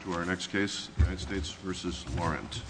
To our next case, United States v. Laurent.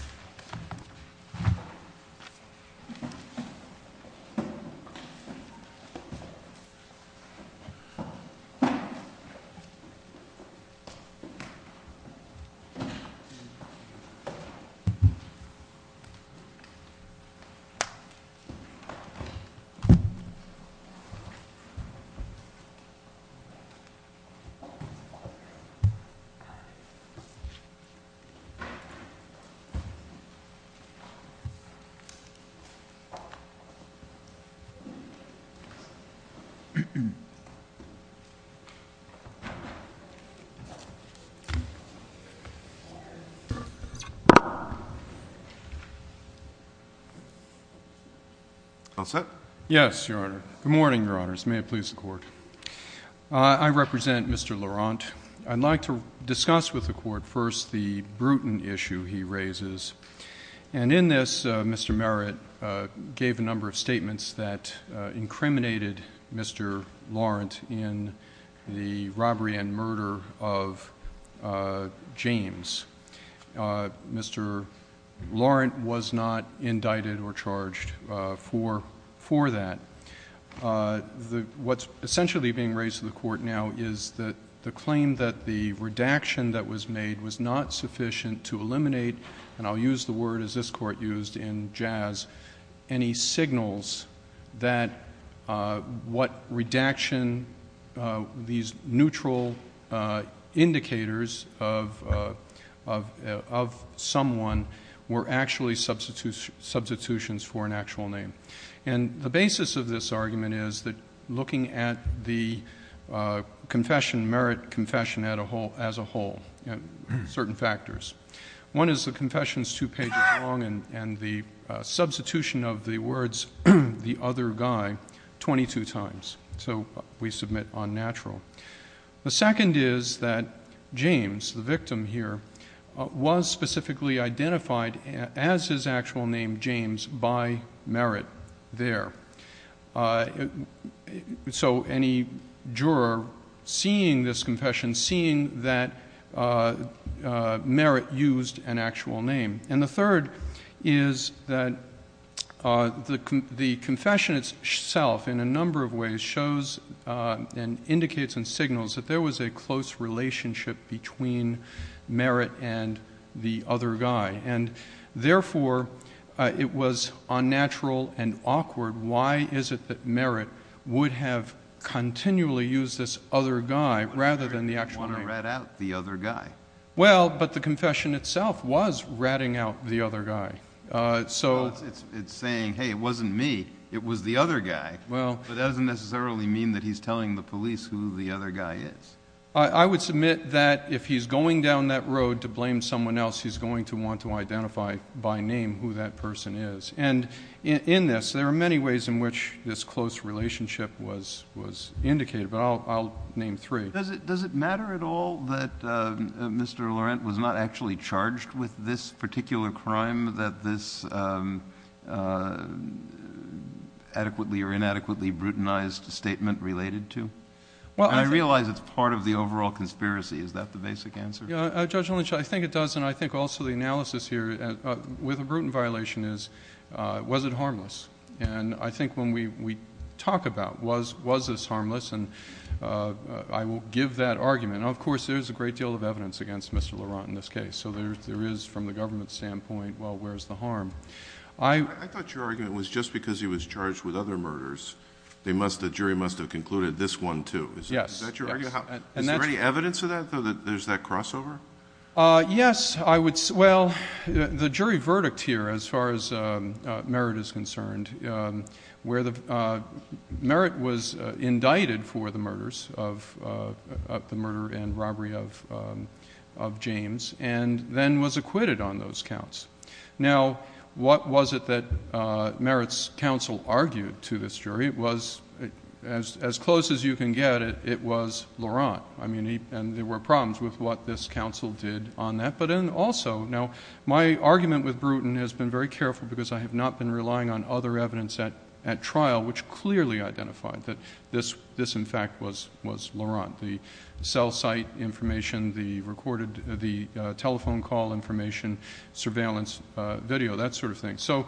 Good morning, Your Honors, may it please the Court. I represent Mr. Laurent. I'd like to discuss with the Court first the Bruton issue he raises. And in this, Mr. Merritt gave a number of statements that incriminated Mr. Laurent in the robbery and murder of James. Mr. Laurent was not indicted or charged for that. What's essentially being raised to the Court now is the claim that the redaction that was made was not sufficient to eliminate, and I'll use the word as this Court used in jazz, any signals that what redaction, these neutral indicators of someone were actually substitutions for an actual name. And the basis of this argument is that looking at the confession, Merritt confession, as a whole, certain factors. One is the confession's two pages long and the substitution of the words the other guy 22 times, so we submit unnatural. The second is that James, the victim here, was specifically identified as his actual name, James, by Merritt there. So any juror seeing this confession, seeing that Merritt used an actual name. And the third is that the confession itself in a number of ways shows and indicates and signals that there was a close relationship between Merritt and the other guy. And therefore, it was unnatural and awkward. Why is it that Merritt would have continually used this other guy rather than the actual name? You want to rat out the other guy. Well, but the confession itself was ratting out the other guy. It's saying, hey, it wasn't me. It was the other guy. But that doesn't necessarily mean that he's telling the police who the other guy is. I would submit that if he's going down that road to blame someone else, he's going to have to identify by name who that person is. And in this, there are many ways in which this close relationship was indicated, but I'll name three. Does it matter at all that Mr. Laurent was not actually charged with this particular crime that this adequately or inadequately brutalized statement related to? I realize it's part of the overall conspiracy. Is that the basic answer? Yeah. Judge Lynch, I think it does. And I think also the analysis here with a Bruton violation is, was it harmless? And I think when we talk about was this harmless, I will give that argument. Of course, there's a great deal of evidence against Mr. Laurent in this case. So there is, from the government's standpoint, well, where's the harm? I thought your argument was just because he was charged with other murders, the jury must have concluded this one, too. Yes. Is that your argument? Is there any evidence of that, though, that there's that crossover? Yes. I would say, well, the jury verdict here, as far as Merritt is concerned, where Merritt was indicted for the murders of, the murder and robbery of James, and then was acquitted on those counts. Now, what was it that Merritt's counsel argued to this jury was, as close as you can get, it was Laurent. I mean, and there were problems with what this counsel did on that. But then also, now, my argument with Bruton has been very careful because I have not been relying on other evidence at trial which clearly identified that this, in fact, was Laurent. The cell site information, the recorded, the telephone call information, surveillance video, that sort of thing. So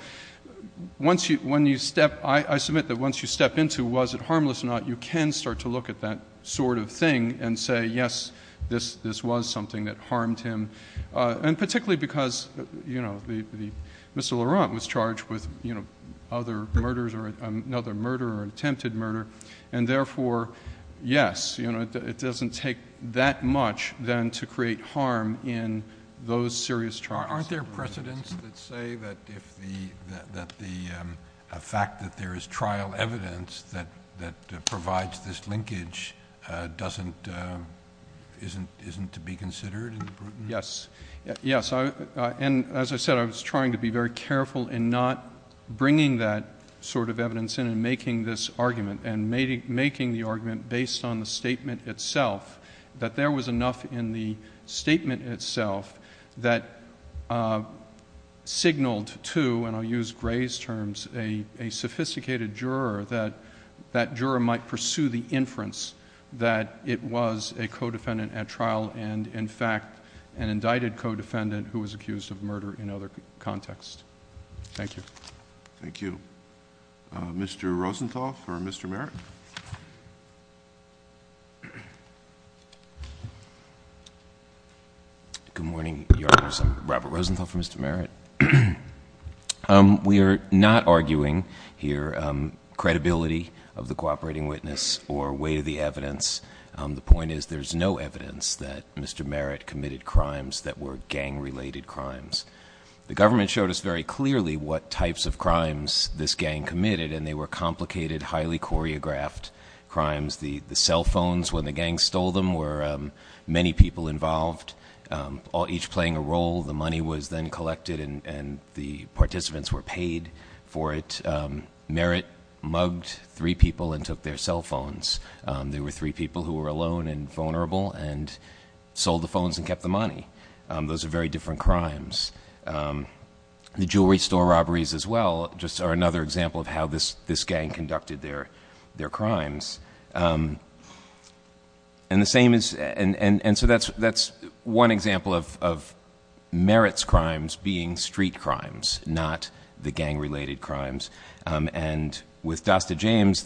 once you, when you step, I submit that once you step into was it harmless or not, you can start to look at that sort of thing and say, yes, this was something that harmed him. And particularly because, you know, Mr. Laurent was charged with, you know, other murders or another murder or attempted murder. And therefore, yes, you know, it doesn't take that much then to create harm in those serious trials. Aren't there precedents that say that if the, that the fact that there is trial evidence that, that provides this linkage doesn't, isn't, isn't to be considered in the Bruton? Yes. Yes. And as I said, I was trying to be very careful in not bringing that sort of evidence in and making this argument and making the argument based on the statement itself, that there was enough in the statement itself that signaled to, and I'll use Gray's terms, a, a sophisticated juror that, that juror might pursue the inference that it was a co-defendant at trial. And in fact, an indicted co-defendant who was accused of murder in other contexts. Thank you. Thank you. Uh, Mr. Rosenthal for Mr. Merritt. Good morning, Your Honors, I'm Robert Rosenthal for Mr. Merritt. Um, we are not arguing here, um, credibility of the cooperating witness or weight of the evidence. Um, the point is there's no evidence that Mr. Merritt committed crimes that were gang related crimes. The government showed us very clearly what types of crimes this gang committed and they were complicated, highly choreographed crimes. The cell phones when the gang stole them were, um, many people involved, um, all each playing a role. The money was then collected and, and the participants were paid for it. Um, Merritt mugged three people and took their cell phones. Um, there were three people who were alone and vulnerable and sold the phones and kept the money. Um, those are very different crimes. Um, the jewelry store robberies as well just are another example of how this, this gang conducted their, their crimes. Um, and the same is, and, and, and so that's, that's one example of, of Merritt's crimes being street crimes, not the gang related crimes. Um, and with Dasta James,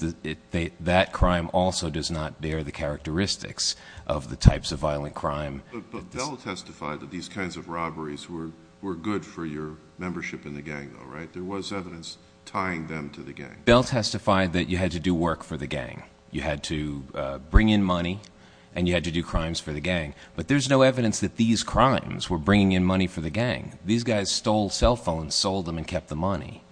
that crime also does not bear the characteristics of the types of violent crime. But, but, but Bell testified that these kinds of robberies were, were good for your membership in the gang though, right? There was evidence tying them to the gang. Bell testified that you had to do work for the gang. You had to, uh, bring in money and you had to do crimes for the gang, but there's no evidence that these crimes were bringing in money for the gang. These guys stole cell phones, sold them and kept the money,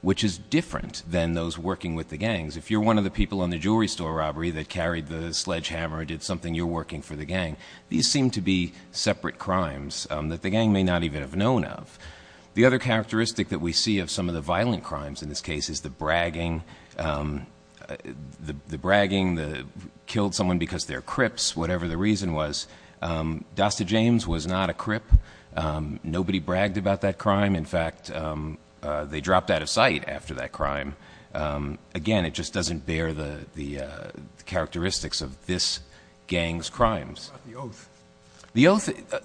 which is different than those working with the gangs. If you're one of the people on the jewelry store robbery that carried the sledgehammer did something, you're working for the gang. These seem to be separate crimes, um, that the gang may not even have known of. The other characteristic that we see of some of the violent crimes in this case is the bragging, um, the, the bragging, the killed someone because they're crips, whatever the reason was, um, Dasta James was not a crip. Um, nobody bragged about that crime. In fact, um, uh, they dropped out of sight after that crime. Um, again, it just doesn't bear the, the, uh, characteristics of this gang's crimes. The oath,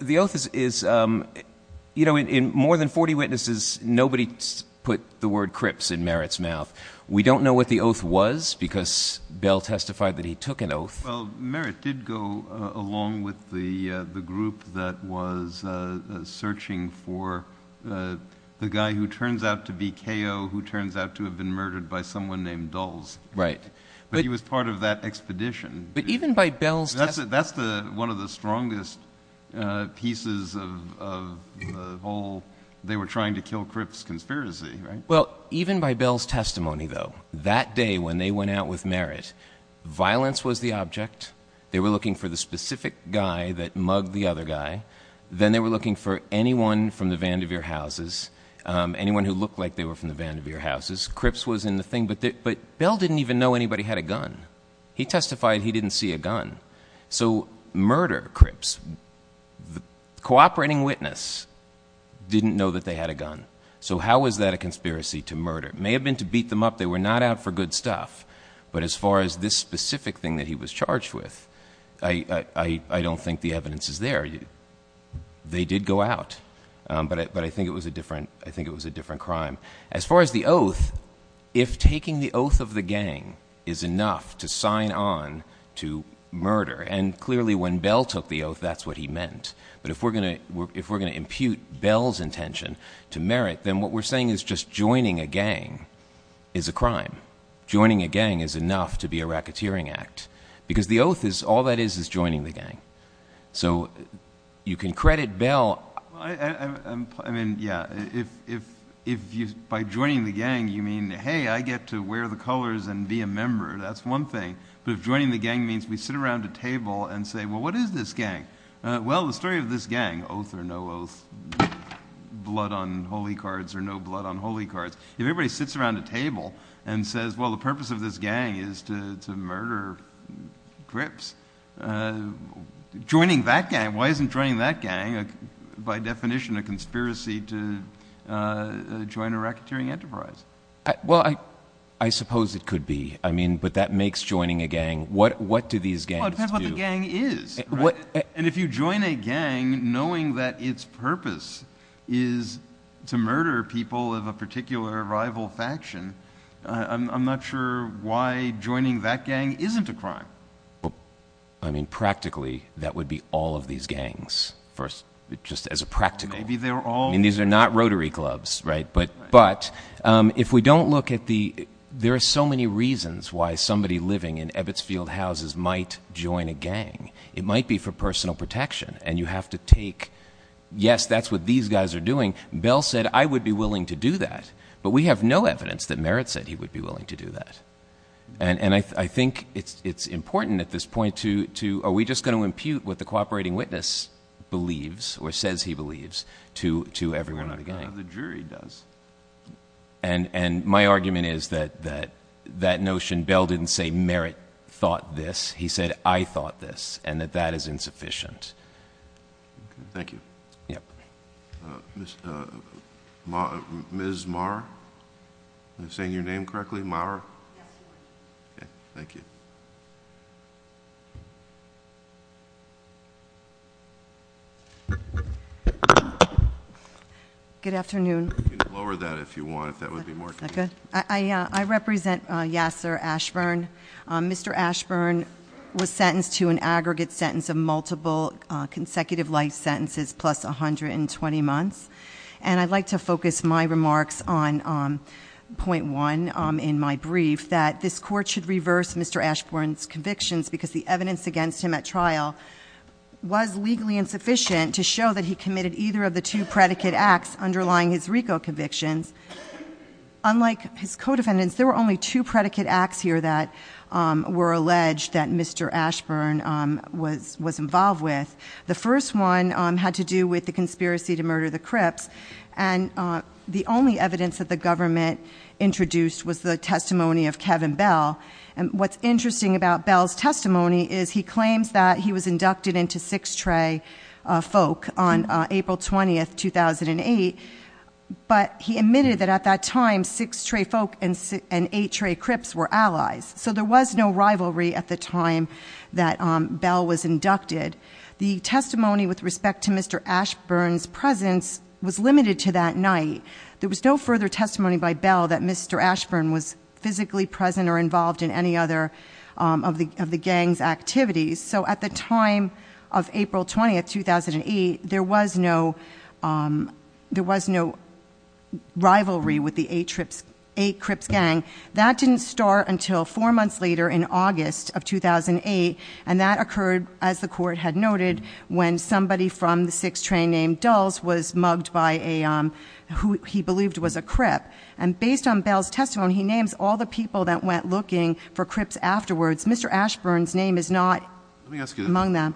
the oath is, is, um, you know, in more than 40 witnesses, nobody put the word crips in Merritt's mouth. We don't know what the oath was because Bell testified that he took an oath. Well, Merritt did go along with the, uh, the group that was, uh, searching for, uh, the been murdered by someone named Dulles, but he was part of that expedition, but even by Bell's that's the, that's the, one of the strongest, uh, pieces of, of the whole, they were trying to kill crips conspiracy, right? Well, even by Bell's testimony though, that day, when they went out with Merritt, violence was the object. They were looking for the specific guy that mugged the other guy. Then they were looking for anyone from the Vandevere houses. Um, anyone who looked like they were from the Vandevere houses. Crips was in the thing, but, but Bell didn't even know anybody had a gun. He testified he didn't see a gun. So murder crips, the cooperating witness didn't know that they had a gun. So how was that a conspiracy to murder? It may have been to beat them up. They were not out for good stuff, but as far as this specific thing that he was charged with, I, I, I don't think the evidence is there. They did go out. Um, but, but I think it was a different, I think it was a different crime. As far as the oath, if taking the oath of the gang is enough to sign on to murder. And clearly when Bell took the oath, that's what he meant. But if we're going to, if we're going to impute Bell's intention to Merritt, then what we're saying is just joining a gang is a crime. Joining a gang is enough to be a racketeering act because the oath is all that is, is joining the gang. So you can credit Bell. I mean, yeah. If, if, if you, by joining the gang, you mean, Hey, I get to wear the colors and be a member. That's one thing, but if joining the gang means we sit around a table and say, well, what is this gang? Uh, well, the story of this gang oath or no oath, blood on Holy cards or no blood on Holy cards. If everybody sits around a table and says, well, the purpose of this gang is to murder grips, uh, joining that gang, why isn't joining that gang by definition, a conspiracy to, uh, join a racketeering enterprise? Well, I, I suppose it could be. I mean, but that makes joining a gang. What, what do these gangs do? And if you join a gang, knowing that its purpose is to murder people of a particular rival faction, uh, I'm not sure why joining that gang isn't a crime. I mean, practically that would be all of these gangs first, just as a practical, maybe they were all, I mean, these are not rotary clubs, right. But, but, um, if we don't look at the, there are so many reasons why somebody living in Ebbetsfield houses might join a gang, it might be for personal protection and you have to take, yes, that's what these guys are doing. Bell said, I would be willing to do that, but we have no evidence that Merritt said he would be willing to do that. And, and I, I think it's, it's important at this point to, to, are we just going to impute what the cooperating witness believes or says he believes to, to everyone in the gang? The jury does. And, and my argument is that, that, that notion, Bell didn't say Merritt thought this, he said, I thought this and that that is insufficient. Thank you. Yep. Uh, Miss, uh, Ma, Ms. Marr, am I saying your name correctly? Marr? Okay. Thank you. Good afternoon. Lower that if you want, if that would be more convenient. I, I, uh, I represent, uh, Yasser Ashburn. Um, Mr. Ashburn was sentenced to an aggregate sentence of multiple consecutive life sentences plus 120 months. And I'd like to focus my remarks on, um, point one, um, in my brief that this court should reverse Mr. Ashburn's convictions because the evidence against him at trial was legally insufficient to show that he committed either of the two predicate acts underlying his RICO convictions. Unlike his co-defendants, there were only two predicate acts here that, um, were alleged that Mr. Ashburn, um, was, was involved with. The first one, um, had to do with the conspiracy to murder the Crips. And, uh, the only evidence that the government introduced was the testimony of Kevin Bell. And what's interesting about Bell's testimony is he claims that he was inducted into six tray, uh, folk on April 20th, 2008, but he admitted that at that time, six tray folk and eight tray Crips were allies. So there was no rivalry at the time that, um, Bell was inducted. The testimony with respect to Mr. Ashburn's presence was limited to that night. There was no further testimony by Bell that Mr. Ashburn was physically present or involved in any other, um, of the, of the gang's activities. So at the time of April 20th, 2008, there was no, um, there was no rivalry with the eight Crips gang. That didn't start until four months later in August of 2008. And that occurred as the court had noted, when somebody from the six train named Dulls was mugged by a, um, who he believed was a Crip. And based on Bell's testimony, he names all the people that went looking for Crips afterwards. Mr. Ashburn's name is not among them.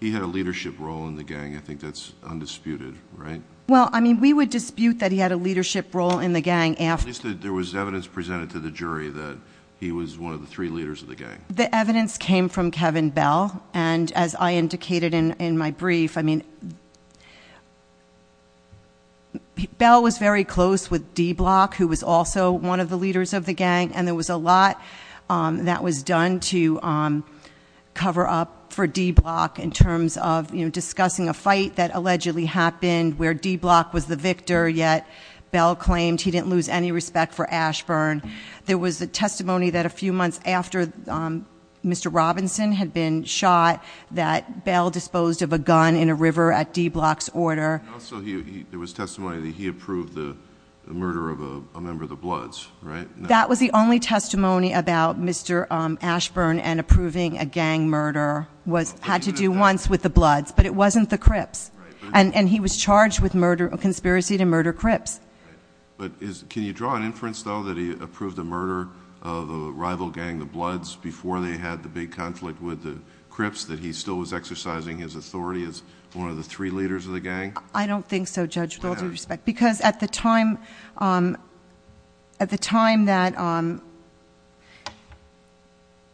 He had a leadership role in the gang. I think that's undisputed, right? Well, I mean, we would dispute that he had a leadership role in the gang. At least there was evidence presented to the jury that he was one of the three leaders of the gang. The evidence came from Kevin Bell. And as I indicated in, in my brief, I mean, Bell was very close with D Block, who was also one of the leaders of the gang. And there was a lot, um, that was done to, um, cover up for D Block in terms of, you know, discussing a fight that allegedly happened where D Block was the victor yet Bell claimed he didn't lose any respect for Ashburn. There was a testimony that a few months after, um, Mr. Robinson had been shot that Bell disposed of a gun in a river at D Block's order. There was testimony that he approved the murder of a member of the Bloods, right? That was the only testimony about Mr. Um, Ashburn and approving a gang murder was, had to do once with the Bloods, but it wasn't the Crips and he was charged with murder or conspiracy to murder Crips. But is, can you draw an inference though, that he approved the murder of a rival gang, the Bloods before they had the big conflict with the Crips, that he still was exercising his authority as one of the three leaders of the gang? I don't think so judge, with all due respect, because at the time, um, at the time that, um,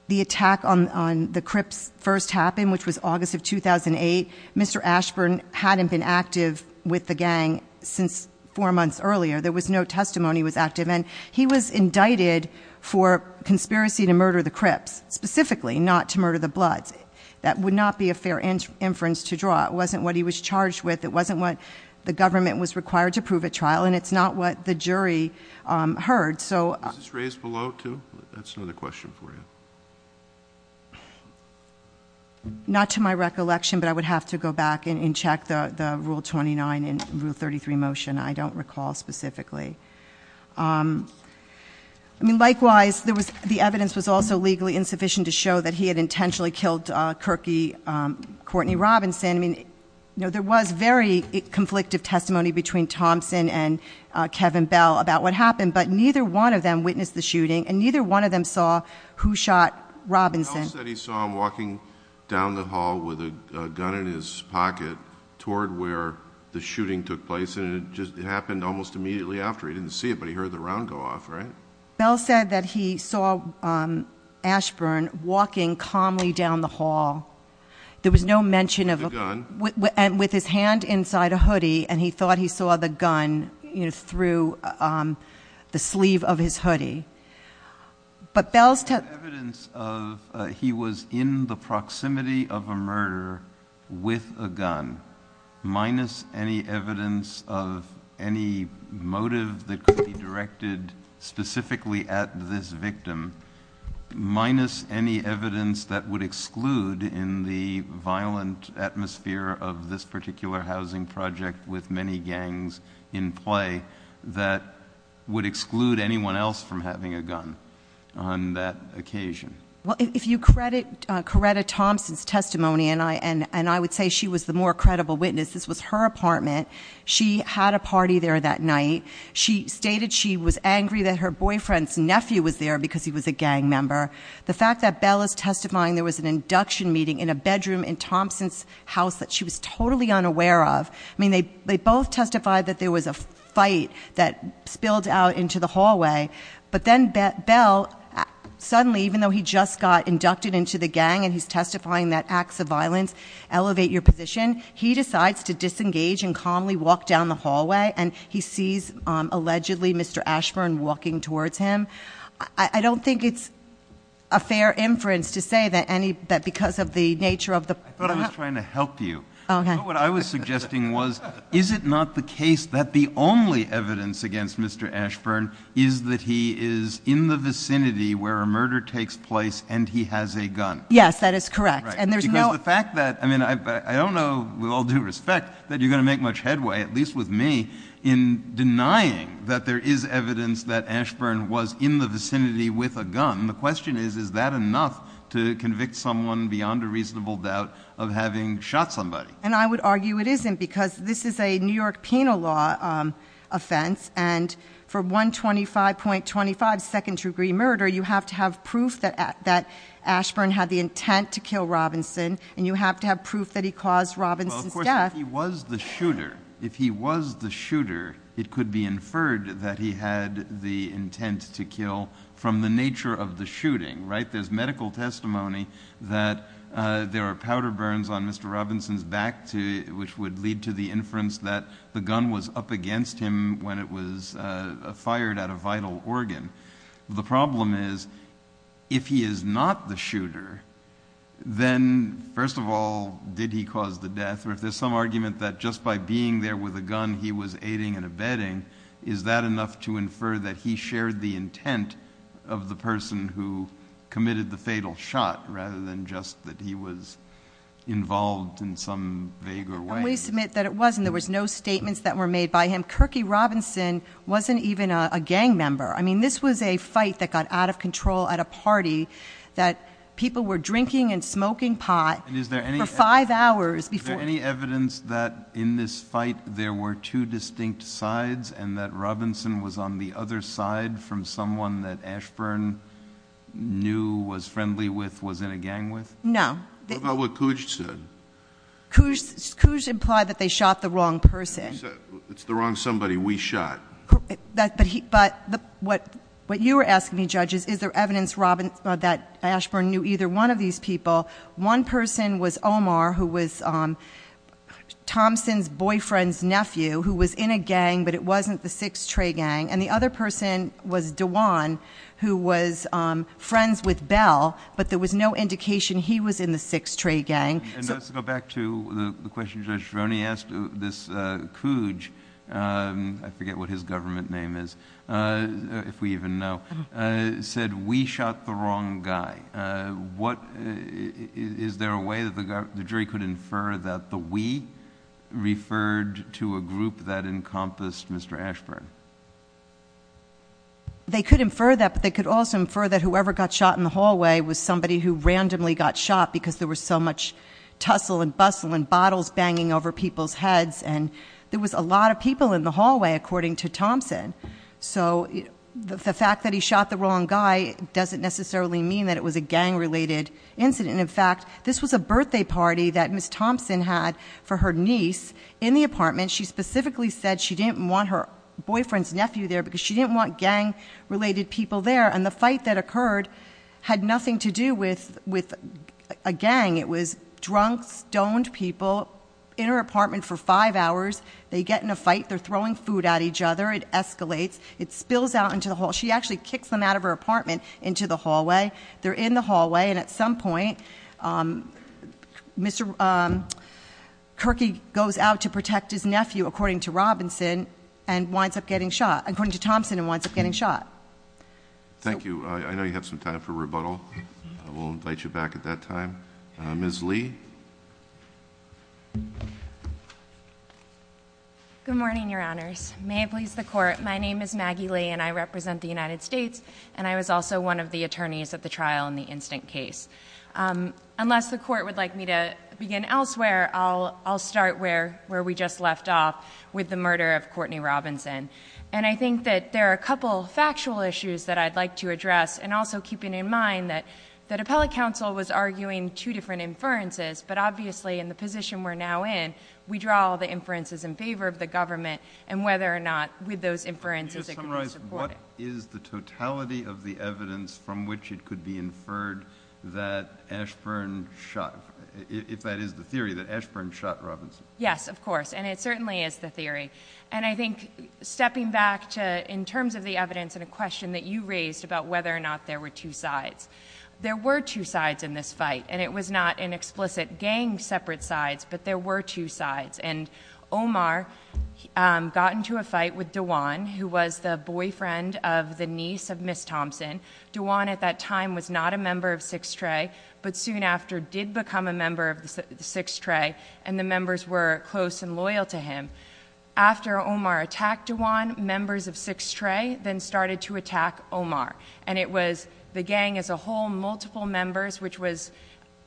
the attack on, on the Crips first happened, which was August of 2008, Mr. Ashburn hadn't been active with the gang since four months earlier. There was no testimony was active and he was indicted for conspiracy to murder the Crips specifically not to murder the Bloods. That would not be a fair inference to draw. It wasn't what he was charged with. It wasn't what the government was required to prove at trial. And it's not what the jury, um, heard. So that's another question for you. Not to my recollection, but I would have to go back and check the, the rule 29 and rule 33 motion, I don't recall specifically. Um, I mean, likewise, there was, the evidence was also legally insufficient to show that he had intentionally killed, uh, Kirky, um, Courtney Robinson. I mean, you know, there was very conflictive testimony between Thompson and, uh, Kevin Bell about what happened, but neither one of them witnessed the Robinsons that he saw him walking down the hall with a gun in his pocket toward where the shooting took place. And it just happened almost immediately after he didn't see it, but he heard the round go off, right? Bell said that he saw, um, Ashburn walking calmly down the hall. There was no mention of a gun with his hand inside a hoodie. And he thought he saw the gun through, um, the sleeve of his hoodie, but evidence of, uh, he was in the proximity of a murder with a gun minus any evidence of any motive that could be directed specifically at this victim minus any evidence that would exclude in the violent atmosphere of this particular housing project with many gangs in play that would exclude anyone else from that occasion. Well, if you credit Coretta Thompson's testimony and I, and, and I would say she was the more credible witness. This was her apartment. She had a party there that night. She stated she was angry that her boyfriend's nephew was there because he was a gang member. The fact that Bell is testifying, there was an induction meeting in a bedroom in Thompson's house that she was totally unaware of. I mean, they, they both testified that there was a fight that spilled out into the hallway, but then Bell suddenly, even though he just got inducted into the gang and he's testifying that acts of violence elevate your position, he decides to disengage and calmly walk down the hallway and he sees, um, allegedly Mr. Ashburn walking towards him. I don't think it's a fair inference to say that any, that because of the nature of the, I thought I was trying to help you, but what I was suggesting was, is it not the case that the only evidence against Mr. Ashburn is that he is in the vicinity where a murder takes place and he has a gun? Yes, that is correct. And there's no fact that, I mean, I, I don't know, with all due respect that you're going to make much headway, at least with me in denying that there is evidence that Ashburn was in the vicinity with a gun. The question is, is that enough to convict someone beyond a reasonable doubt of having shot somebody? And I would argue it isn't because this is a New York penal law, um, offense and for 125.25 second degree murder, you have to have proof that, that Ashburn had the intent to kill Robinson and you have to have proof that he caused Robinson's death. If he was the shooter, if he was the shooter, it could be inferred that he had the intent to kill from the nature of the shooting, right? There's medical testimony that, uh, there are powder burns on Mr. Robinson's back to, which would lead to the inference that the gun was up against him when it was, uh, fired at a vital organ. The problem is if he is not the shooter, then first of all, did he cause the death or if there's some argument that just by being there with a gun, he was aiding and abetting, is that enough to infer that he shared the intent of the assault in some vaguer way? I always submit that it wasn't. There was no statements that were made by him. Kirky Robinson wasn't even a gang member. I mean, this was a fight that got out of control at a party that people were drinking and smoking pot for five hours before. Is there any evidence that in this fight, there were two distinct sides and that Robinson was on the other side from someone that Ashburn knew was friendly with, was in a gang with? No. What about what Cooge said? Cooge implied that they shot the wrong person. It's the wrong somebody we shot. That, but he, but what, what you were asking me judges, is there evidence Robin that Ashburn knew either one of these people, one person was Omar, who was, um, Thompson's boyfriend's nephew who was in a gang, but it wasn't the sixth tray gang and the other person was Dewan who was, um, friends with the sixth tray gang. So let's go back to the question. Judge Roney asked this, uh, Cooge. Um, I forget what his government name is. Uh, if we even know, uh, said we shot the wrong guy. Uh, what is there a way that the jury could infer that the, we referred to a group that encompassed Mr. Ashburn. They could infer that, but they could also infer that whoever got shot in the hallway was somebody who randomly got shot because there was so much tussle and bustle and bottles banging over people's heads. And there was a lot of people in the hallway, according to Thompson. So the fact that he shot the wrong guy doesn't necessarily mean that it was a gang related incident. In fact, this was a birthday party that Ms. Thompson had for her niece in the apartment. She specifically said she didn't want her boyfriend's nephew there because she didn't want gang related people there. And the fight that occurred had nothing to do with, with a gang. It was drunk stoned people in her apartment for five hours. They get in a fight, they're throwing food at each other. It escalates. It spills out into the hall. She actually kicks them out of her apartment into the hallway. They're in the hallway. And at some point, um, Mr, um, Kirky goes out to protect his nephew, according to Robinson and winds up getting shot according to Thompson and winds up getting shot. Thank you. I know you have some time for rebuttal. We'll invite you back at that time. Uh, Ms. Lee. Good morning, Your Honors. May it please the court. My name is Maggie Lee and I represent the United States. And I was also one of the attorneys at the trial in the instant case. Um, unless the court would like me to begin elsewhere, I'll, I'll start where, where we just left off with the murder of Courtney Robinson. And I think that there are a couple of factual issues that I'd like to address. And also keeping in mind that, that appellate counsel was arguing two different inferences, but obviously in the position we're now in, we draw the inferences in favor of the government and whether or not with those inferences, it could be supported. Can you summarize what is the totality of the evidence from which it could be inferred that Ashburn shot, if that is the theory that Ashburn shot Robinson? Yes, of course. And it certainly is the theory. And I think stepping back to, in terms of the evidence and a question that you raised about whether or not there were two sides, there were two sides in this fight, and it was not an explicit gang separate sides, but there were two sides. And Omar, um, got into a fight with Dewan, who was the boyfriend of the niece of Ms. Thompson. Dewan at that time was not a member of Six Tray, but soon after did become a member of the Six Tray and the members were close and loyal to him. After Omar attacked Dewan, members of Six Tray then started to attack Omar. And it was the gang as a whole, multiple members, which was,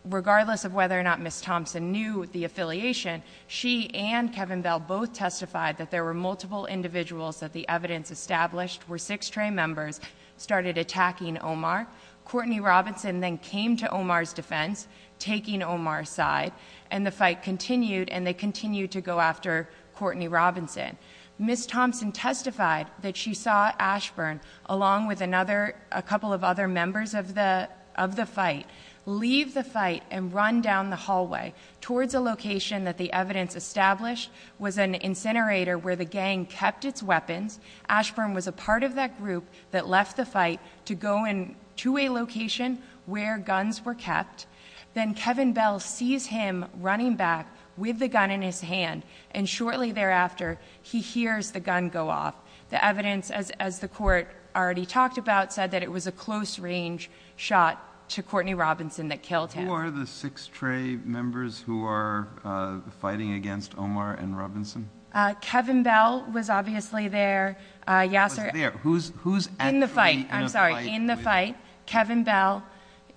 regardless of whether or not Ms. Thompson knew the affiliation, she and Kevin Bell both testified that there were multiple individuals that the evidence established were Six Tray members, started attacking Omar. Courtney Robinson then came to Omar's defense, taking Omar's side, and the gang then started to attack Ms. Thompson. Ms. Thompson testified that she saw Ashburn, along with another, a couple of other members of the, of the fight, leave the fight and run down the hallway towards a location that the evidence established was an incinerator where the gang kept its weapons. Ashburn was a part of that group that left the fight to go in to a location where guns were kept. Then Kevin Bell sees him running back with the gun in his hand. And shortly thereafter, he hears the gun go off. The evidence, as, as the court already talked about, said that it was a close range shot to Courtney Robinson that killed him. Who are the Six Tray members who are fighting against Omar and Robinson? Uh, Kevin Bell was obviously there. Uh, Yasser- Was there. Who's, who's actually in a fight with- In the fight, I'm sorry, in the fight, Kevin Bell,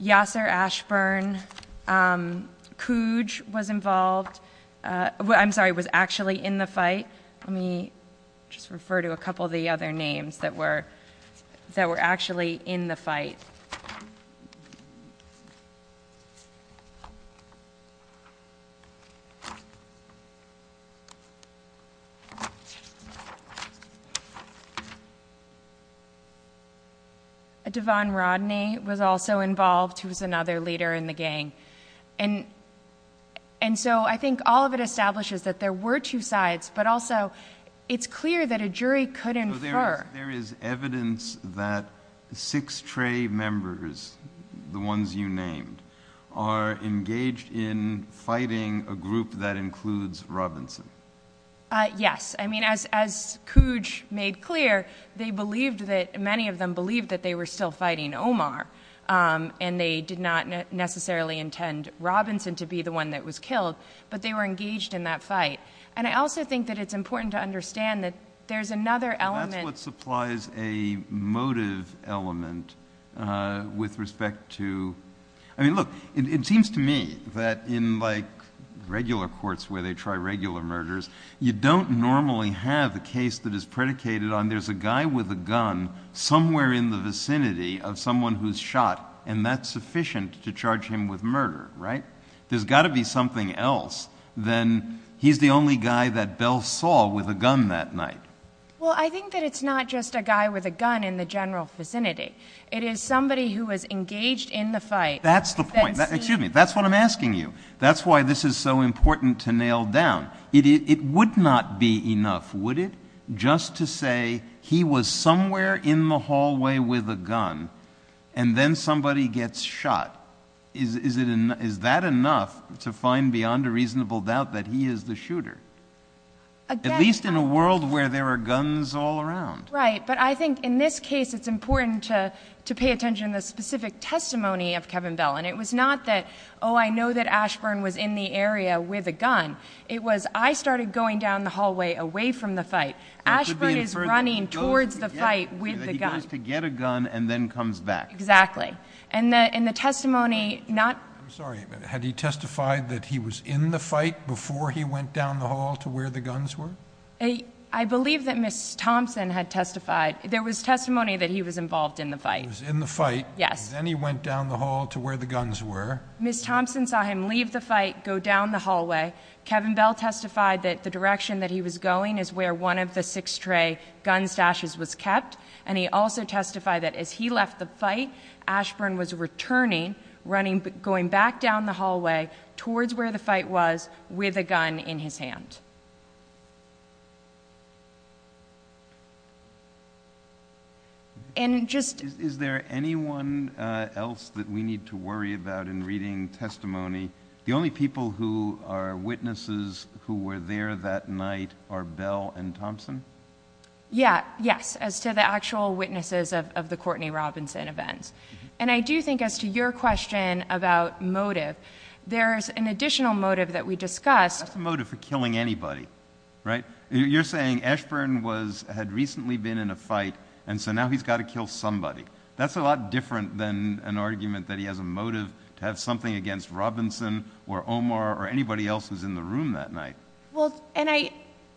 Yasser Ashburn, um, Cooge was involved, uh, well, I'm sorry, was actually in the fight. Let me just refer to a couple of the other names that were, that were actually in the fight. Devon Rodney was also involved. He was another leader in the gang. And, and so I think all of it establishes that there were two sides, but also it's clear that a jury could infer- There is evidence that Six Tray members, the ones you named, are engaged in fighting a group that includes Robinson. Uh, yes. I mean, as, as Cooge made clear, they believed that many of them believed that they were still fighting Omar. Um, and they did not necessarily intend Robinson to be the one that was killed, but they were engaged in that fight. And I also think that it's important to understand that there's another element- That's what supplies a motive element, uh, with respect to, I mean, look, it seems to me that in like regular courts where they try regular murders, you don't normally have a case that is predicated on there's a guy with a gun somewhere in the vicinity of someone who's shot and that's sufficient to charge him with murder, right? There's got to be something else. Then he's the only guy that Bell saw with a gun that night. Well, I think that it's not just a guy with a gun in the general vicinity. It is somebody who was engaged in the fight- That's the point. Excuse me. That's what I'm asking you. That's why this is so important to nail down. It, it would not be enough, would it? Just to say he was somewhere in the hallway with a gun and then somebody gets shot. Is, is it, is that enough to find beyond a reasonable doubt that he is the shooter? At least in a world where there are guns all around. Right. But I think in this case, it's important to, to pay attention to specific testimony of Kevin Bell. And it was not that, oh, I know that Ashburn was in the area with a gun. It was, I started going down the hallway away from the fight. Ashburn is running towards the fight with the gun. He goes to get a gun and then comes back. Exactly. And the, in the testimony, not- I'm sorry, but had he testified that he was in the fight before he went down the hall to where the guns were? I believe that Ms. Thompson had testified. There was testimony that he was involved in the fight. He was in the fight. Yes. Ms. Thompson saw him leave the fight, go down the hallway. Kevin Bell testified that the direction that he was going is where one of the six tray gun stashes was kept. And he also testified that as he left the fight, Ashburn was returning, running, going back down the hallway towards where the fight was with a gun in his hand. And just- Is there anyone else that we need to worry about in reading testimony? The only people who are witnesses who were there that night are Bell and Thompson? Yeah. Yes. As to the actual witnesses of the Courtney Robinson events. And I do think as to your question about motive, there's an additional motive that we discussed- That's a motive for killing anybody, right? You're saying Ashburn was, had recently been in a fight and so now he's got to kill somebody. That's a lot different than an argument that he has a motive to have something against Robinson or Omar or anybody else who's in the room that night. Well, and I,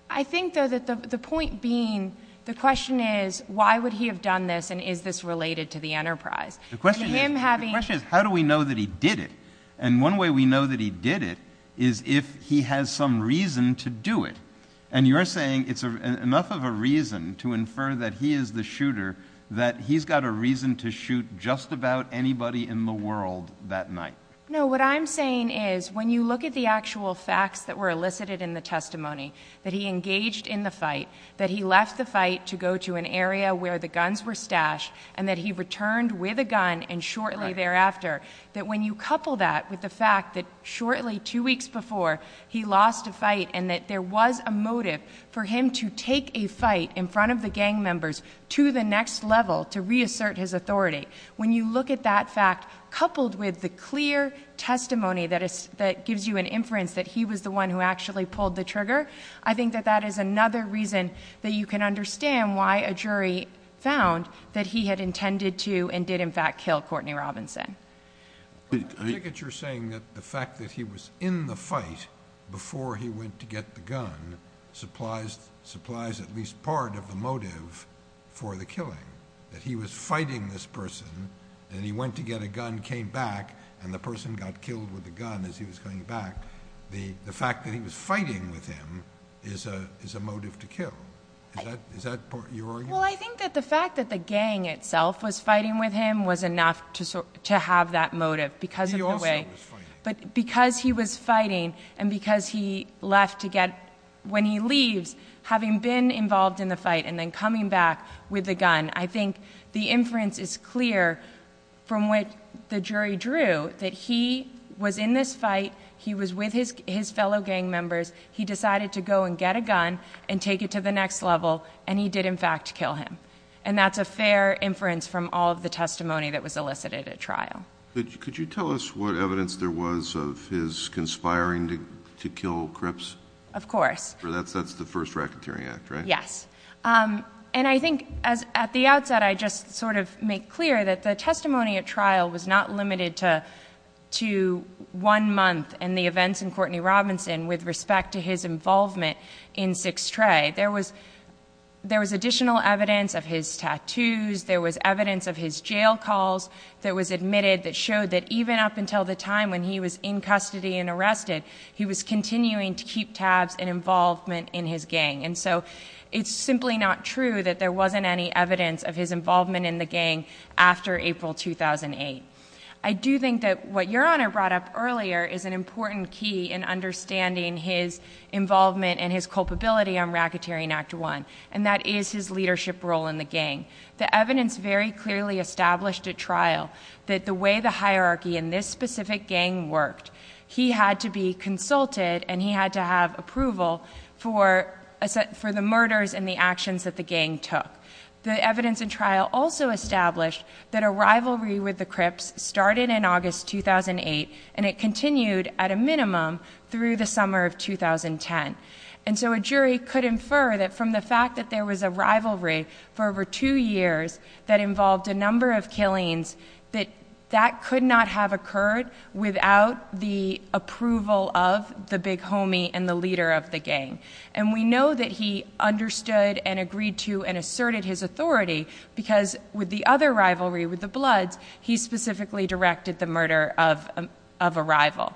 I think though that the point being, the question is, why would he have done this and is this related to the enterprise? The question is, how do we know that he did it? And one way we know that he did it is if he has some reason to do it. And you're saying it's enough of a reason to infer that he is the shooter, that he's got a reason to shoot just about anybody in the world that night. No, what I'm saying is when you look at the actual facts that were elicited in the testimony, that he engaged in the fight, that he left the fight to go to an area where the guns were stashed and that he returned with a gun and shortly thereafter, that when you couple that with the fact that shortly, two weeks before, he lost a fight and that there was a motive for him to take a fight in front of the gang members to the next level, to reassert his authority. When you look at that fact, coupled with the clear testimony that is, that gives you an inference that he was the one who actually pulled the trigger, I think that that is another reason that you can understand why a jury found that he had intended to and did in fact kill Courtney Robinson. I take it you're saying that the fact that he was in the fight before he went to get the gun supplies, supplies at least part of the motive for the killing, that he was fighting this person and he went to get a gun, came back and the person got killed with a gun as he was coming back. The, the fact that he was fighting with him is a, is a motive to kill. Is that, is that your argument? Well, I think that the fact that the gang itself was fighting with him was enough to, to have that motive because of the way, but because he was fighting and because he left to get, when he leaves, having been involved in the fight and then coming back with the gun, I think the inference is clear from what the jury drew, that he was in this fight, he was with his, his fellow gang members, he decided to go and get a gun and take it to the next level and he did in fact kill him. And that's a fair inference from all of the testimony that was elicited at trial. Could you tell us what evidence there was of his conspiring to, to kill Cripps? Of course. That's, that's the first racketeering act, right? Yes. Um, and I think as at the outset, I just sort of make clear that the testimony at trial was not limited to, to one month and the events in Courtney Robinson with respect to his involvement in Six Tray. There was, there was additional evidence of his tattoos. There was evidence of his jail calls that was admitted that showed that even up until the time when he was in custody and arrested, he was continuing to keep tabs and involvement in his gang. And so it's simply not true that there wasn't any evidence of his involvement in the gang after April, 2008. I do think that what your honor brought up earlier is an important key in understanding his involvement and his culpability on racketeering act one, and that is his leadership role in the gang. The evidence very clearly established at trial that the way the hierarchy in this specific gang worked, he had to be consulted and he had to have approval for for the murders and the actions that the gang took. The evidence and trial also established that a rivalry with the Crips started in August, 2008, and it continued at a minimum through the summer of 2010. And so a jury could infer that from the fact that there was a rivalry for over two years that involved a number of killings, that that could not have occurred without the approval of the big homie and the leader of the gang. And we know that he understood and agreed to and asserted his authority because with the other rivalry, with the Bloods, he specifically directed the murder of a rival.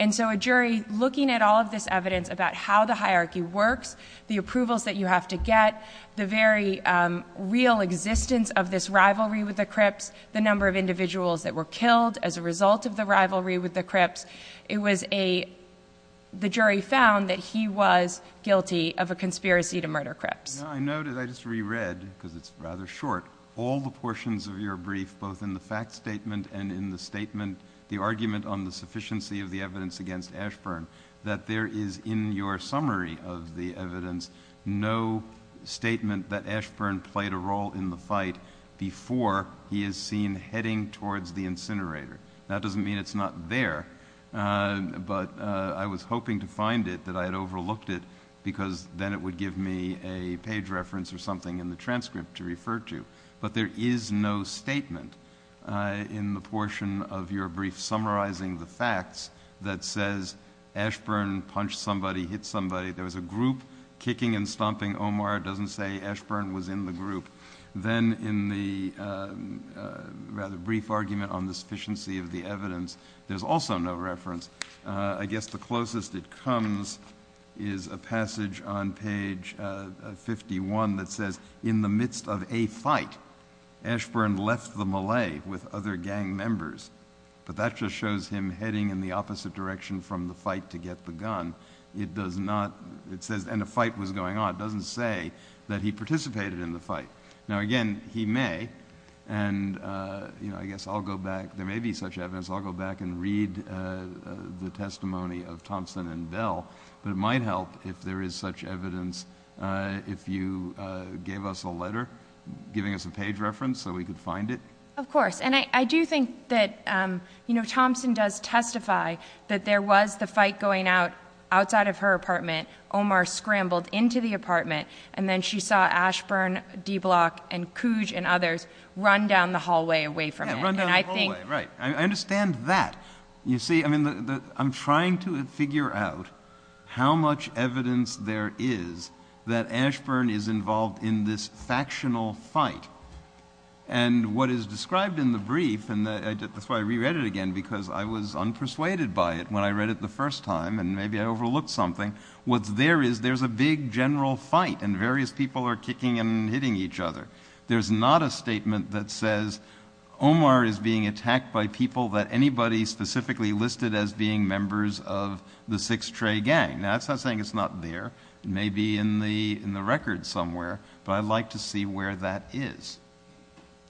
And so a jury looking at all of this evidence about how the hierarchy works, the approvals that you have to get, the very real existence of this rivalry with the Crips, the number of individuals that were killed as a result of the guilty of a conspiracy to murder Crips. I know that I just reread, because it's rather short, all the portions of your brief, both in the fact statement and in the statement, the argument on the sufficiency of the evidence against Ashburn, that there is in your summary of the evidence, no statement that Ashburn played a role in the fight before he is seen heading towards the incinerator. That doesn't mean it's not there. But I was hoping to find it that I had overlooked it because then it would give me a page reference or something in the transcript to refer to, but there is no statement in the portion of your brief, summarizing the facts that says Ashburn punched somebody, hit somebody. There was a group kicking and stomping. Omar doesn't say Ashburn was in the group. Then in the rather brief argument on the sufficiency of the evidence, there's also no reference, I guess the closest it comes is a passage on page 51 that says in the midst of a fight, Ashburn left the Malay with other gang members, but that just shows him heading in the opposite direction from the fight to get the gun. It does not, it says, and a fight was going on. It doesn't say that he participated in the fight. Now, again, he may, and you know, I guess I'll go back. There may be such evidence. I'll go back and read the testimony of Thompson and Bell, but it might help if there is such evidence, if you gave us a letter giving us a page reference so we could find it. Of course. And I do think that, you know, Thompson does testify that there was the fight going out outside of her apartment. Omar scrambled into the apartment and then she saw Ashburn, Dblock and Cooge and others run down the hallway away from it. Yeah, run down the hallway, right. I understand that. You see, I mean, I'm trying to figure out how much evidence there is that Ashburn is involved in this factional fight and what is described in the brief. And that's why I reread it again, because I was unpersuaded by it when I read it the first time, and maybe I overlooked something. What's there is there's a big general fight and various people are kicking and hitting each other. There's not a statement that says Omar is being attacked by people that anybody specifically listed as being members of the Six Trey gang. Now that's not saying it's not there. It may be in the, in the record somewhere, but I'd like to see where that is.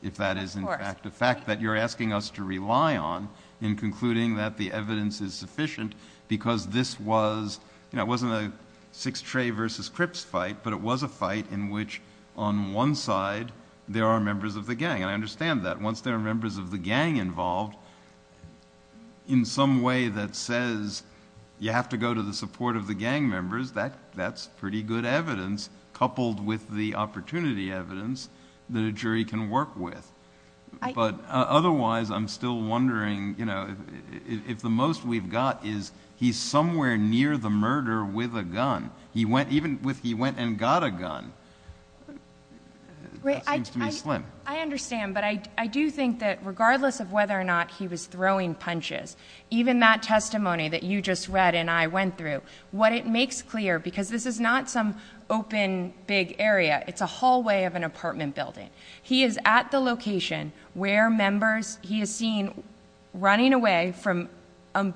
If that is in fact a fact that you're asking us to rely on in concluding that the evidence is sufficient because this was, you know, it wasn't a Six Trey versus Crips fight, but it was a fight in which on one side there are members of the gang, and I understand that once there are members of the gang involved. In some way that says you have to go to the support of the gang members. That that's pretty good evidence coupled with the opportunity evidence that a jury can work with. But otherwise I'm still wondering, you know, if the most we've got is he's somewhere near the murder with a gun. He went, even with, he went and got a gun. Wait, I, I, I understand, but I, I do think that regardless of whether or not he was throwing punches, even that testimony that you just read and I went through, what it makes clear, because this is not some open big area, it's a hallway of an apartment building. He is at the location where members he has seen running away from a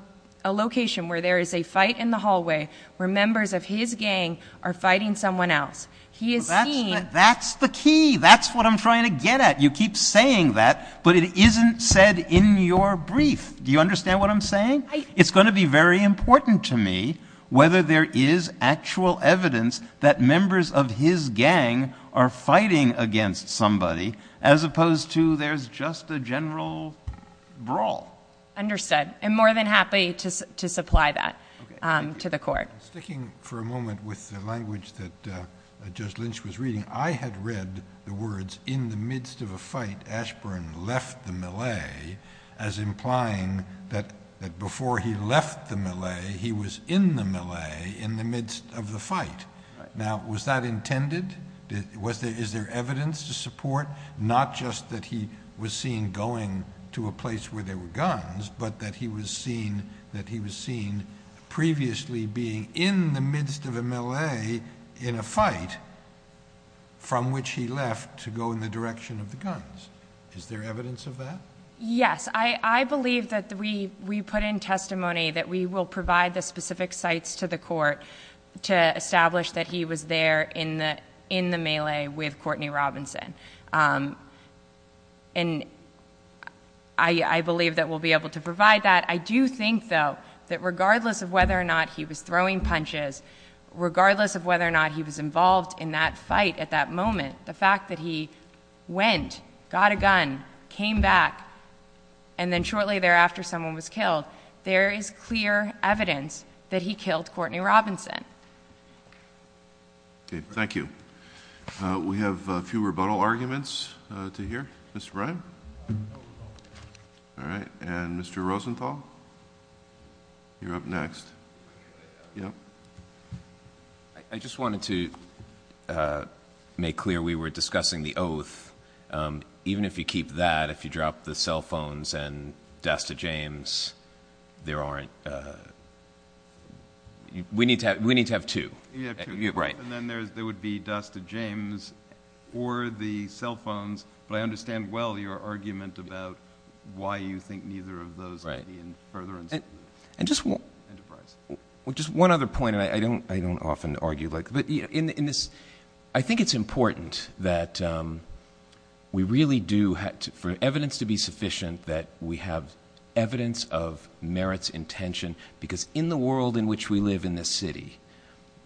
location where there is a fight in the hallway where members of his gang are fighting someone else, he is seen. That's the key. That's what I'm trying to get at. You keep saying that, but it isn't said in your brief. Do you understand what I'm saying? It's going to be very important to me whether there is actual evidence that members of his gang are fighting against somebody as opposed to there's just a general brawl. Understood. I'm more than happy to, to supply that, um, to the court. Sticking for a moment with the language that, uh, Judge Lynch was reading. I had read the words in the midst of a fight, Ashburn left the melee as implying that, that before he left the melee, he was in the melee in the midst of the fight. Now, was that intended? Did, was there, is there evidence to support, not just that he was seen going to a place where there were guns, but that he was seen, that he was seen previously being in the midst of a melee in a fight from which he left to go in the direction of the guns? Is there evidence of that? Yes. I believe that we, we put in testimony that we will provide the specific sites to the court to establish that he was there in the, in the melee with Courtney Robinson. Um, and I, I believe that we'll be able to provide that. I do think though, that regardless of whether or not he was throwing punches, regardless of whether or not he was involved in that fight at that moment, the fact that he went, got a gun, came back, and then shortly thereafter, someone was killed, there is clear evidence that he killed Courtney Robinson. Okay. Thank you. Uh, we have a few rebuttal arguments, uh, to hear. Mr. Bryan. All right. And Mr. Rosenthal, you're up next. Yeah. I just wanted to, uh, make clear we were discussing the oath. Um, even if you keep that, if you drop the cell phones and Dasta James, there aren't, uh, we need to have, we need to have two, right? And then there's, there would be Dasta James or the cell phones, but I understand well, your argument about why you think neither of those further. And just one, just one other point. And I don't, I don't often argue like, but in this, I think it's important that, um, we really do have to, for evidence to be sufficient, that we have evidence of merits intention, because in the world in which we live in this city,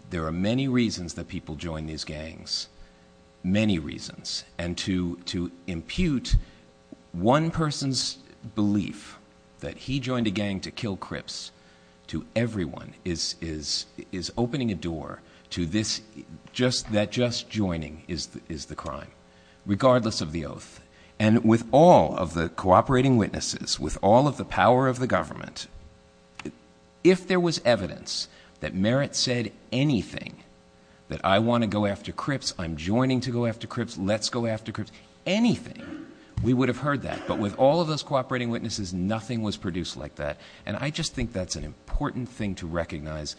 there are many reasons that people join these gangs, many reasons. And to, to impute one person's belief that he joined a gang to kill Crips to everyone is, is, is opening a door to this, just that just joining is the, is the crime regardless of the oath and with all of the cooperating witnesses, with all of the power of the government, if there was evidence that merit said, anything that I want to go after Crips, I'm joining to go after Crips, let's go after Crips, anything, we would have heard that. But with all of those cooperating witnesses, nothing was produced like that. And I just think that's an important thing to recognize,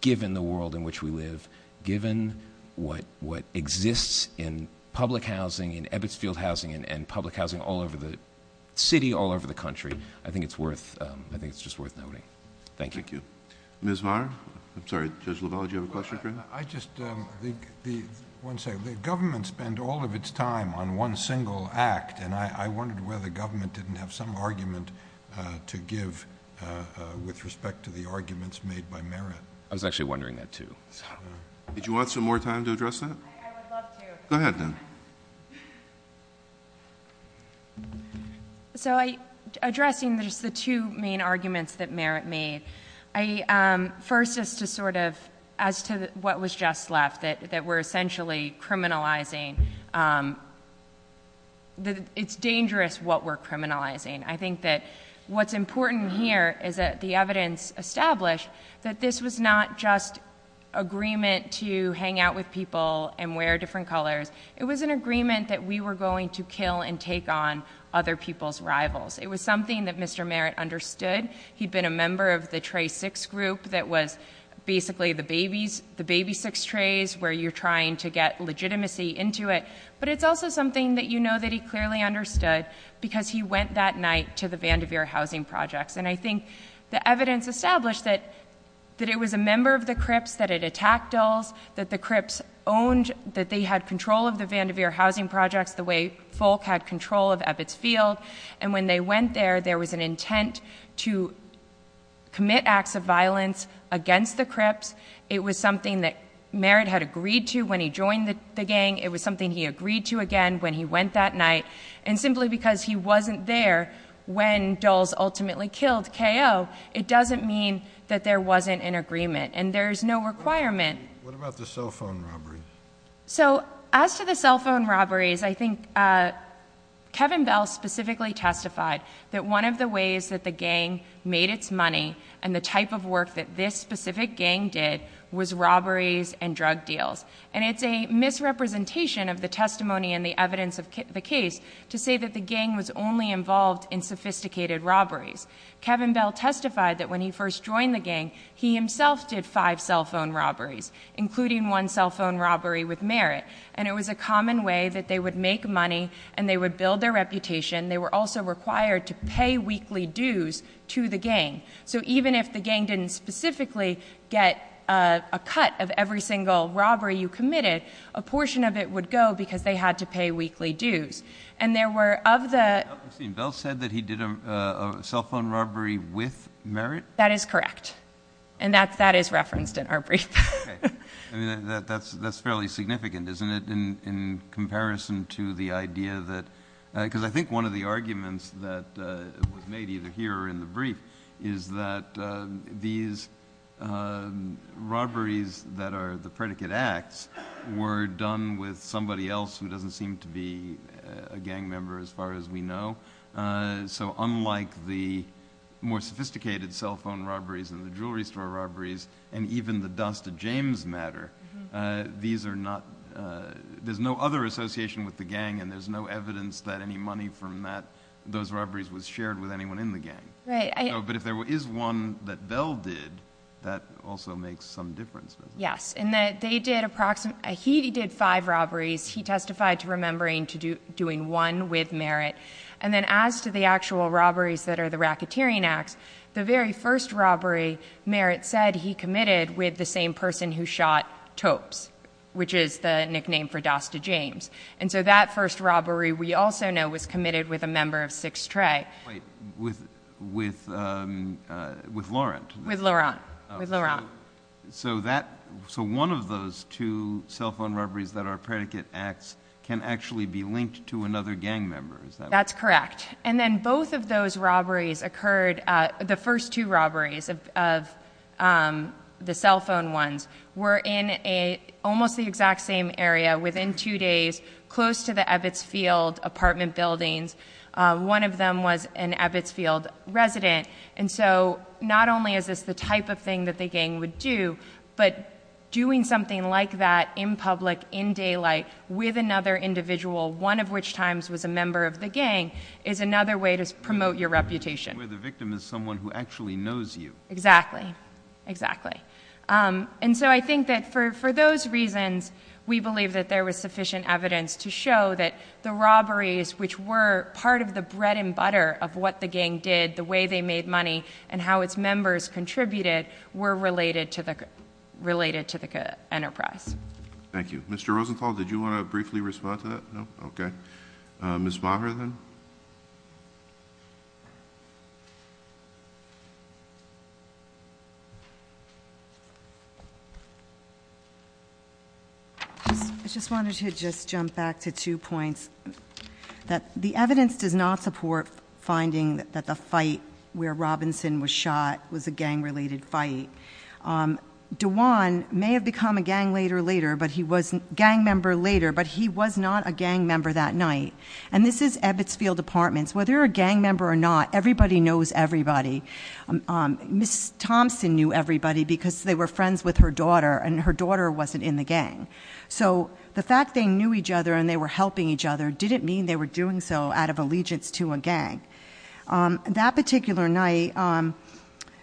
given the world in which we live, given what, what exists in public housing and Ebbets Field housing and public housing all over the city, all over the country, I think it's worth, um, I think it's just worth noting. Thank you. Ms. Varn? I'm sorry, Judge LaValle, did you have a question for him? I just, um, the, the, one second, the government spend all of its time on one single act and I, I wondered whether the government didn't have some argument, uh, to give, uh, uh, with respect to the arguments made by merit. I was actually wondering that too. Did you want some more time to address that? Go ahead then. So I, addressing just the two main arguments that merit made. I, um, first is to sort of, as to what was just left that, that we're essentially criminalizing, um, that it's dangerous what we're criminalizing. I think that what's important here is that the evidence established that this was not just agreement to hang out with people and wear different colors. It was an agreement that we were going to kill and take on other people's rivals. It was something that Mr. Merit understood. He'd been a member of the tray six group that was basically the babies, the baby six trays where you're trying to get legitimacy into it, but it's also something that, you know, that he clearly understood because he went that night to the Vanderveer housing projects. And I think the evidence established that, that it was a member of the Crips, that it attacked Dulles, that the Crips owned, that they had control of the Vanderveer housing projects the way Folk had control of Ebbets Field. And when they went there, there was an intent to commit acts of violence against the Crips. It was something that Merit had agreed to when he joined the gang. It was something he agreed to again, when he went that night and simply because he wasn't there when Dulles ultimately killed KO, it doesn't mean that there wasn't an agreement and there's no requirement. What about the cell phone robberies? So as to the cell phone robberies, I think Kevin Bell specifically testified that one of the ways that the gang made its money and the type of work that this specific gang did was robberies and drug deals. And it's a misrepresentation of the testimony and the evidence of the case to say that the gang was only involved in sophisticated robberies. Kevin Bell testified that when he first joined the gang, he himself did five cell phone robberies, including one cell phone robbery with Merit. And it was a common way that they would make money and they would build their reputation. They were also required to pay weekly dues to the gang. So even if the gang didn't specifically get a cut of every single robbery you committed, a portion of it would go because they had to pay weekly dues. And there were of the... I'm sorry, Bell said that he did a cell phone robbery with Merit? That is correct. And that's, that is referenced in our brief. I mean, that's, that's fairly significant, isn't it? In comparison to the idea that, because I think one of the arguments that was made either here or in the brief is that these robberies that are the predicate acts were done with somebody else who doesn't seem to be a gang member as far as we know. So unlike the more sophisticated cell phone robberies and the jewelry store robberies, and even the Dust to James matter, these are not, there's no other association with the gang and there's no evidence that any money from that, those robberies was shared with anyone in the gang. Right. But if there is one that Bell did, that also makes some difference. Yes. And that they did approximate, he did five robberies. He testified to remembering to do, doing one with Merit. And then as to the actual robberies that are the racketeering acts, the very first robbery Merit said he committed with the same person who shot Topes, which is the nickname for Dust to James. And so that first robbery we also know was committed with a member of Six Trey. Wait, with, with, um, uh, with Laurent? With Laurent. With Laurent. So that, so one of those two cell phone robberies that are predicate acts can actually be linked to another gang member. Is that right? That's correct. And then both of those robberies occurred. Uh, the first two robberies of, of, um, the cell phone ones were in a, almost the exact same area within two days, close to the Ebbets Field apartment buildings. Uh, one of them was an Ebbets Field resident. And so not only is this the type of thing that the gang would do, but doing something like that in public, in daylight with another individual, one of which times was a member of the gang, is another way to promote your reputation. Where the victim is someone who actually knows you. Exactly, exactly. Um, and so I think that for, for those reasons, we believe that there was sufficient evidence to show that the robberies, which were part of the bread and butter of what the gang did, the way they made money and how its members contributed were related to the, related to the enterprise. Thank you. Mr. Rosenthal, did you want to briefly respond to that? No. Okay. Uh, Ms. Maher then. I just wanted to just jump back to two points that the evidence does not support finding that the fight where Robinson was shot was a gang related fight. Um, Dewan may have become a gang later, later, but he wasn't gang member later, but he was not a gang member that night. And this is Ebbets Field apartments. Whether a gang member or not, everybody knows everybody. Um, um, Ms. Thompson knew everybody because they were friends with her daughter and her daughter wasn't in the gang. So the fact they knew each other and they were helping each other didn't mean they were doing so out of allegiance to a gang. Um, that particular night, um,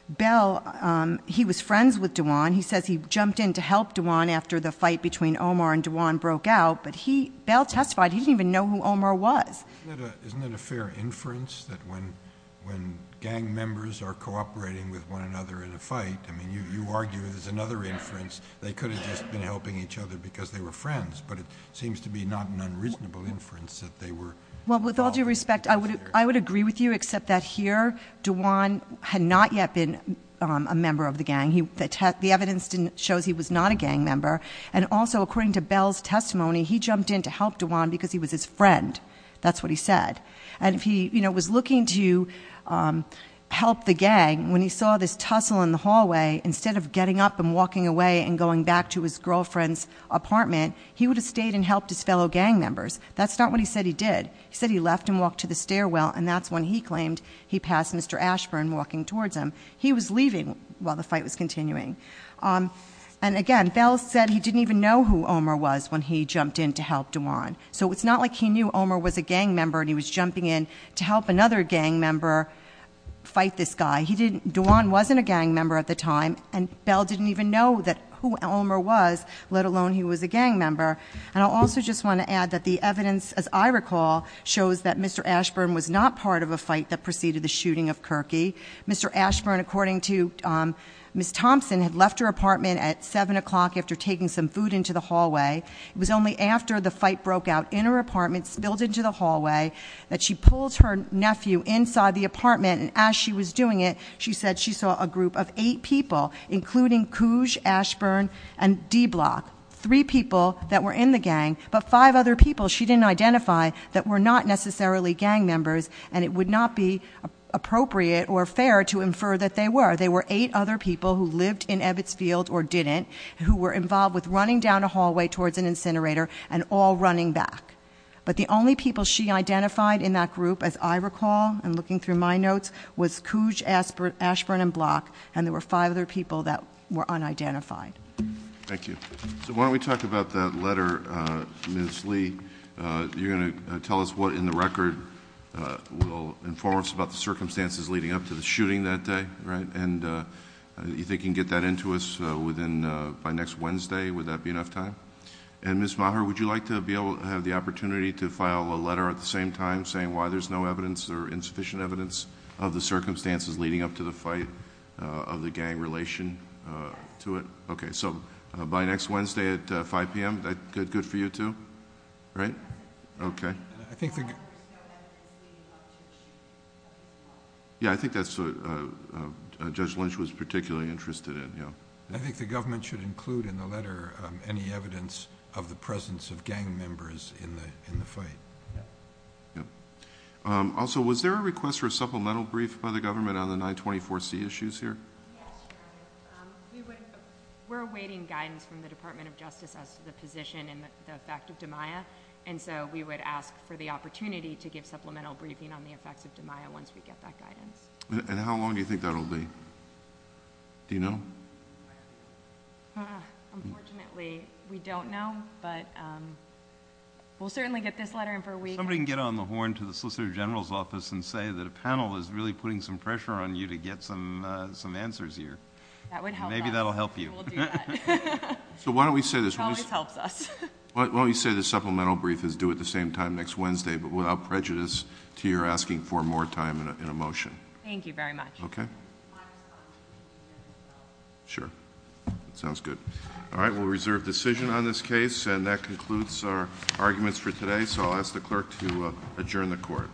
Bell, um, he was friends with Dewan. He says he jumped in to help Dewan after the fight between Omar and Dewan broke out, but he Bell testified. He didn't even know who Omar was. Isn't that a fair inference that when, when gang members are cooperating with one another in a fight, I mean, you, you argue there's another inference they to be not an unreasonable inference that they were, well, with all due respect, I would, I would agree with you except that here Dewan had not yet been a member of the gang. He, the tech, the evidence didn't shows he was not a gang member. And also according to Bell's testimony, he jumped in to help Dewan because he was his friend. That's what he said. And if he was looking to, um, help the gang, when he saw this tussle in the hallway, instead of getting up and walking away and going back to his fellow gang members, that's not what he said he did. He said he left and walked to the stairwell. And that's when he claimed he passed Mr. Ashburn walking towards him. He was leaving while the fight was continuing. Um, and again, Bell said he didn't even know who Omar was when he jumped in to help Dewan. So it's not like he knew Omar was a gang member and he was jumping in to help another gang member fight this guy. He didn't, Dewan wasn't a gang member at the time and Bell didn't even know that who Omar was, let alone he was a gang member. And I'll also just want to add that the evidence, as I recall, shows that Mr. Ashburn was not part of a fight that preceded the shooting of Kirky. Mr. Ashburn, according to, um, Ms. Thompson had left her apartment at seven o'clock after taking some food into the hallway. It was only after the fight broke out in her apartment spilled into the hallway that she pulled her nephew inside the apartment. And as she was doing it, she said she saw a group of eight people, including Cooge, Ashburn and D Block, three people that were in the gang, but five other people she didn't identify that were not necessarily gang members. And it would not be appropriate or fair to infer that they were, they were eight other people who lived in Ebbets field or didn't, who were involved with running down a hallway towards an incinerator and all running back. But the only people she identified in that group, as I recall, and looking through my notes was Cooge, Ashburn, Ashburn and Block. And there were five other people that were unidentified. Thank you. So why don't we talk about that letter, uh, Ms. Lee, uh, you're going to tell us what in the record, uh, will inform us about the circumstances leading up to the shooting that day, right? And, uh, you think you can get that into us, uh, within, uh, by next Wednesday, would that be enough time? And Ms. Maher, would you like to be able to have the opportunity to file a letter at the same time saying why there's no evidence or insufficient evidence of the circumstances leading up to the fight? Uh, of the gang relation, uh, to it. Okay. So, uh, by next Wednesday at 5 PM, that good, good for you too, right? Okay. Yeah. I think that's, uh, uh, uh, Judge Lynch was particularly interested in. Yeah. I think the government should include in the letter, um, any evidence of the presence of gang members in the, in the fight. Yep. Um, also was there a request for a supplemental brief by the government on the 924C issues here? We're awaiting guidance from the Department of Justice as to the position and the fact of DiMaia. And so we would ask for the opportunity to give supplemental briefing on the effects of DiMaia once we get that guidance. And how long do you think that'll be? Do you know? Unfortunately, we don't know, but, um, we'll certainly get this letter in for a week. Somebody can get on the horn to the Solicitor General's office and say that the panel is really putting some pressure on you to get some, uh, some answers here. That would help. Maybe that'll help you. So why don't we say this? Why don't you say the supplemental brief is due at the same time next Wednesday, but without prejudice to your asking for more time in a motion. Thank you very much. Okay. Sure. Sounds good. All right. We'll reserve decision on this case and that concludes our arguments for today. So I'll ask the clerk to adjourn the court. Sure.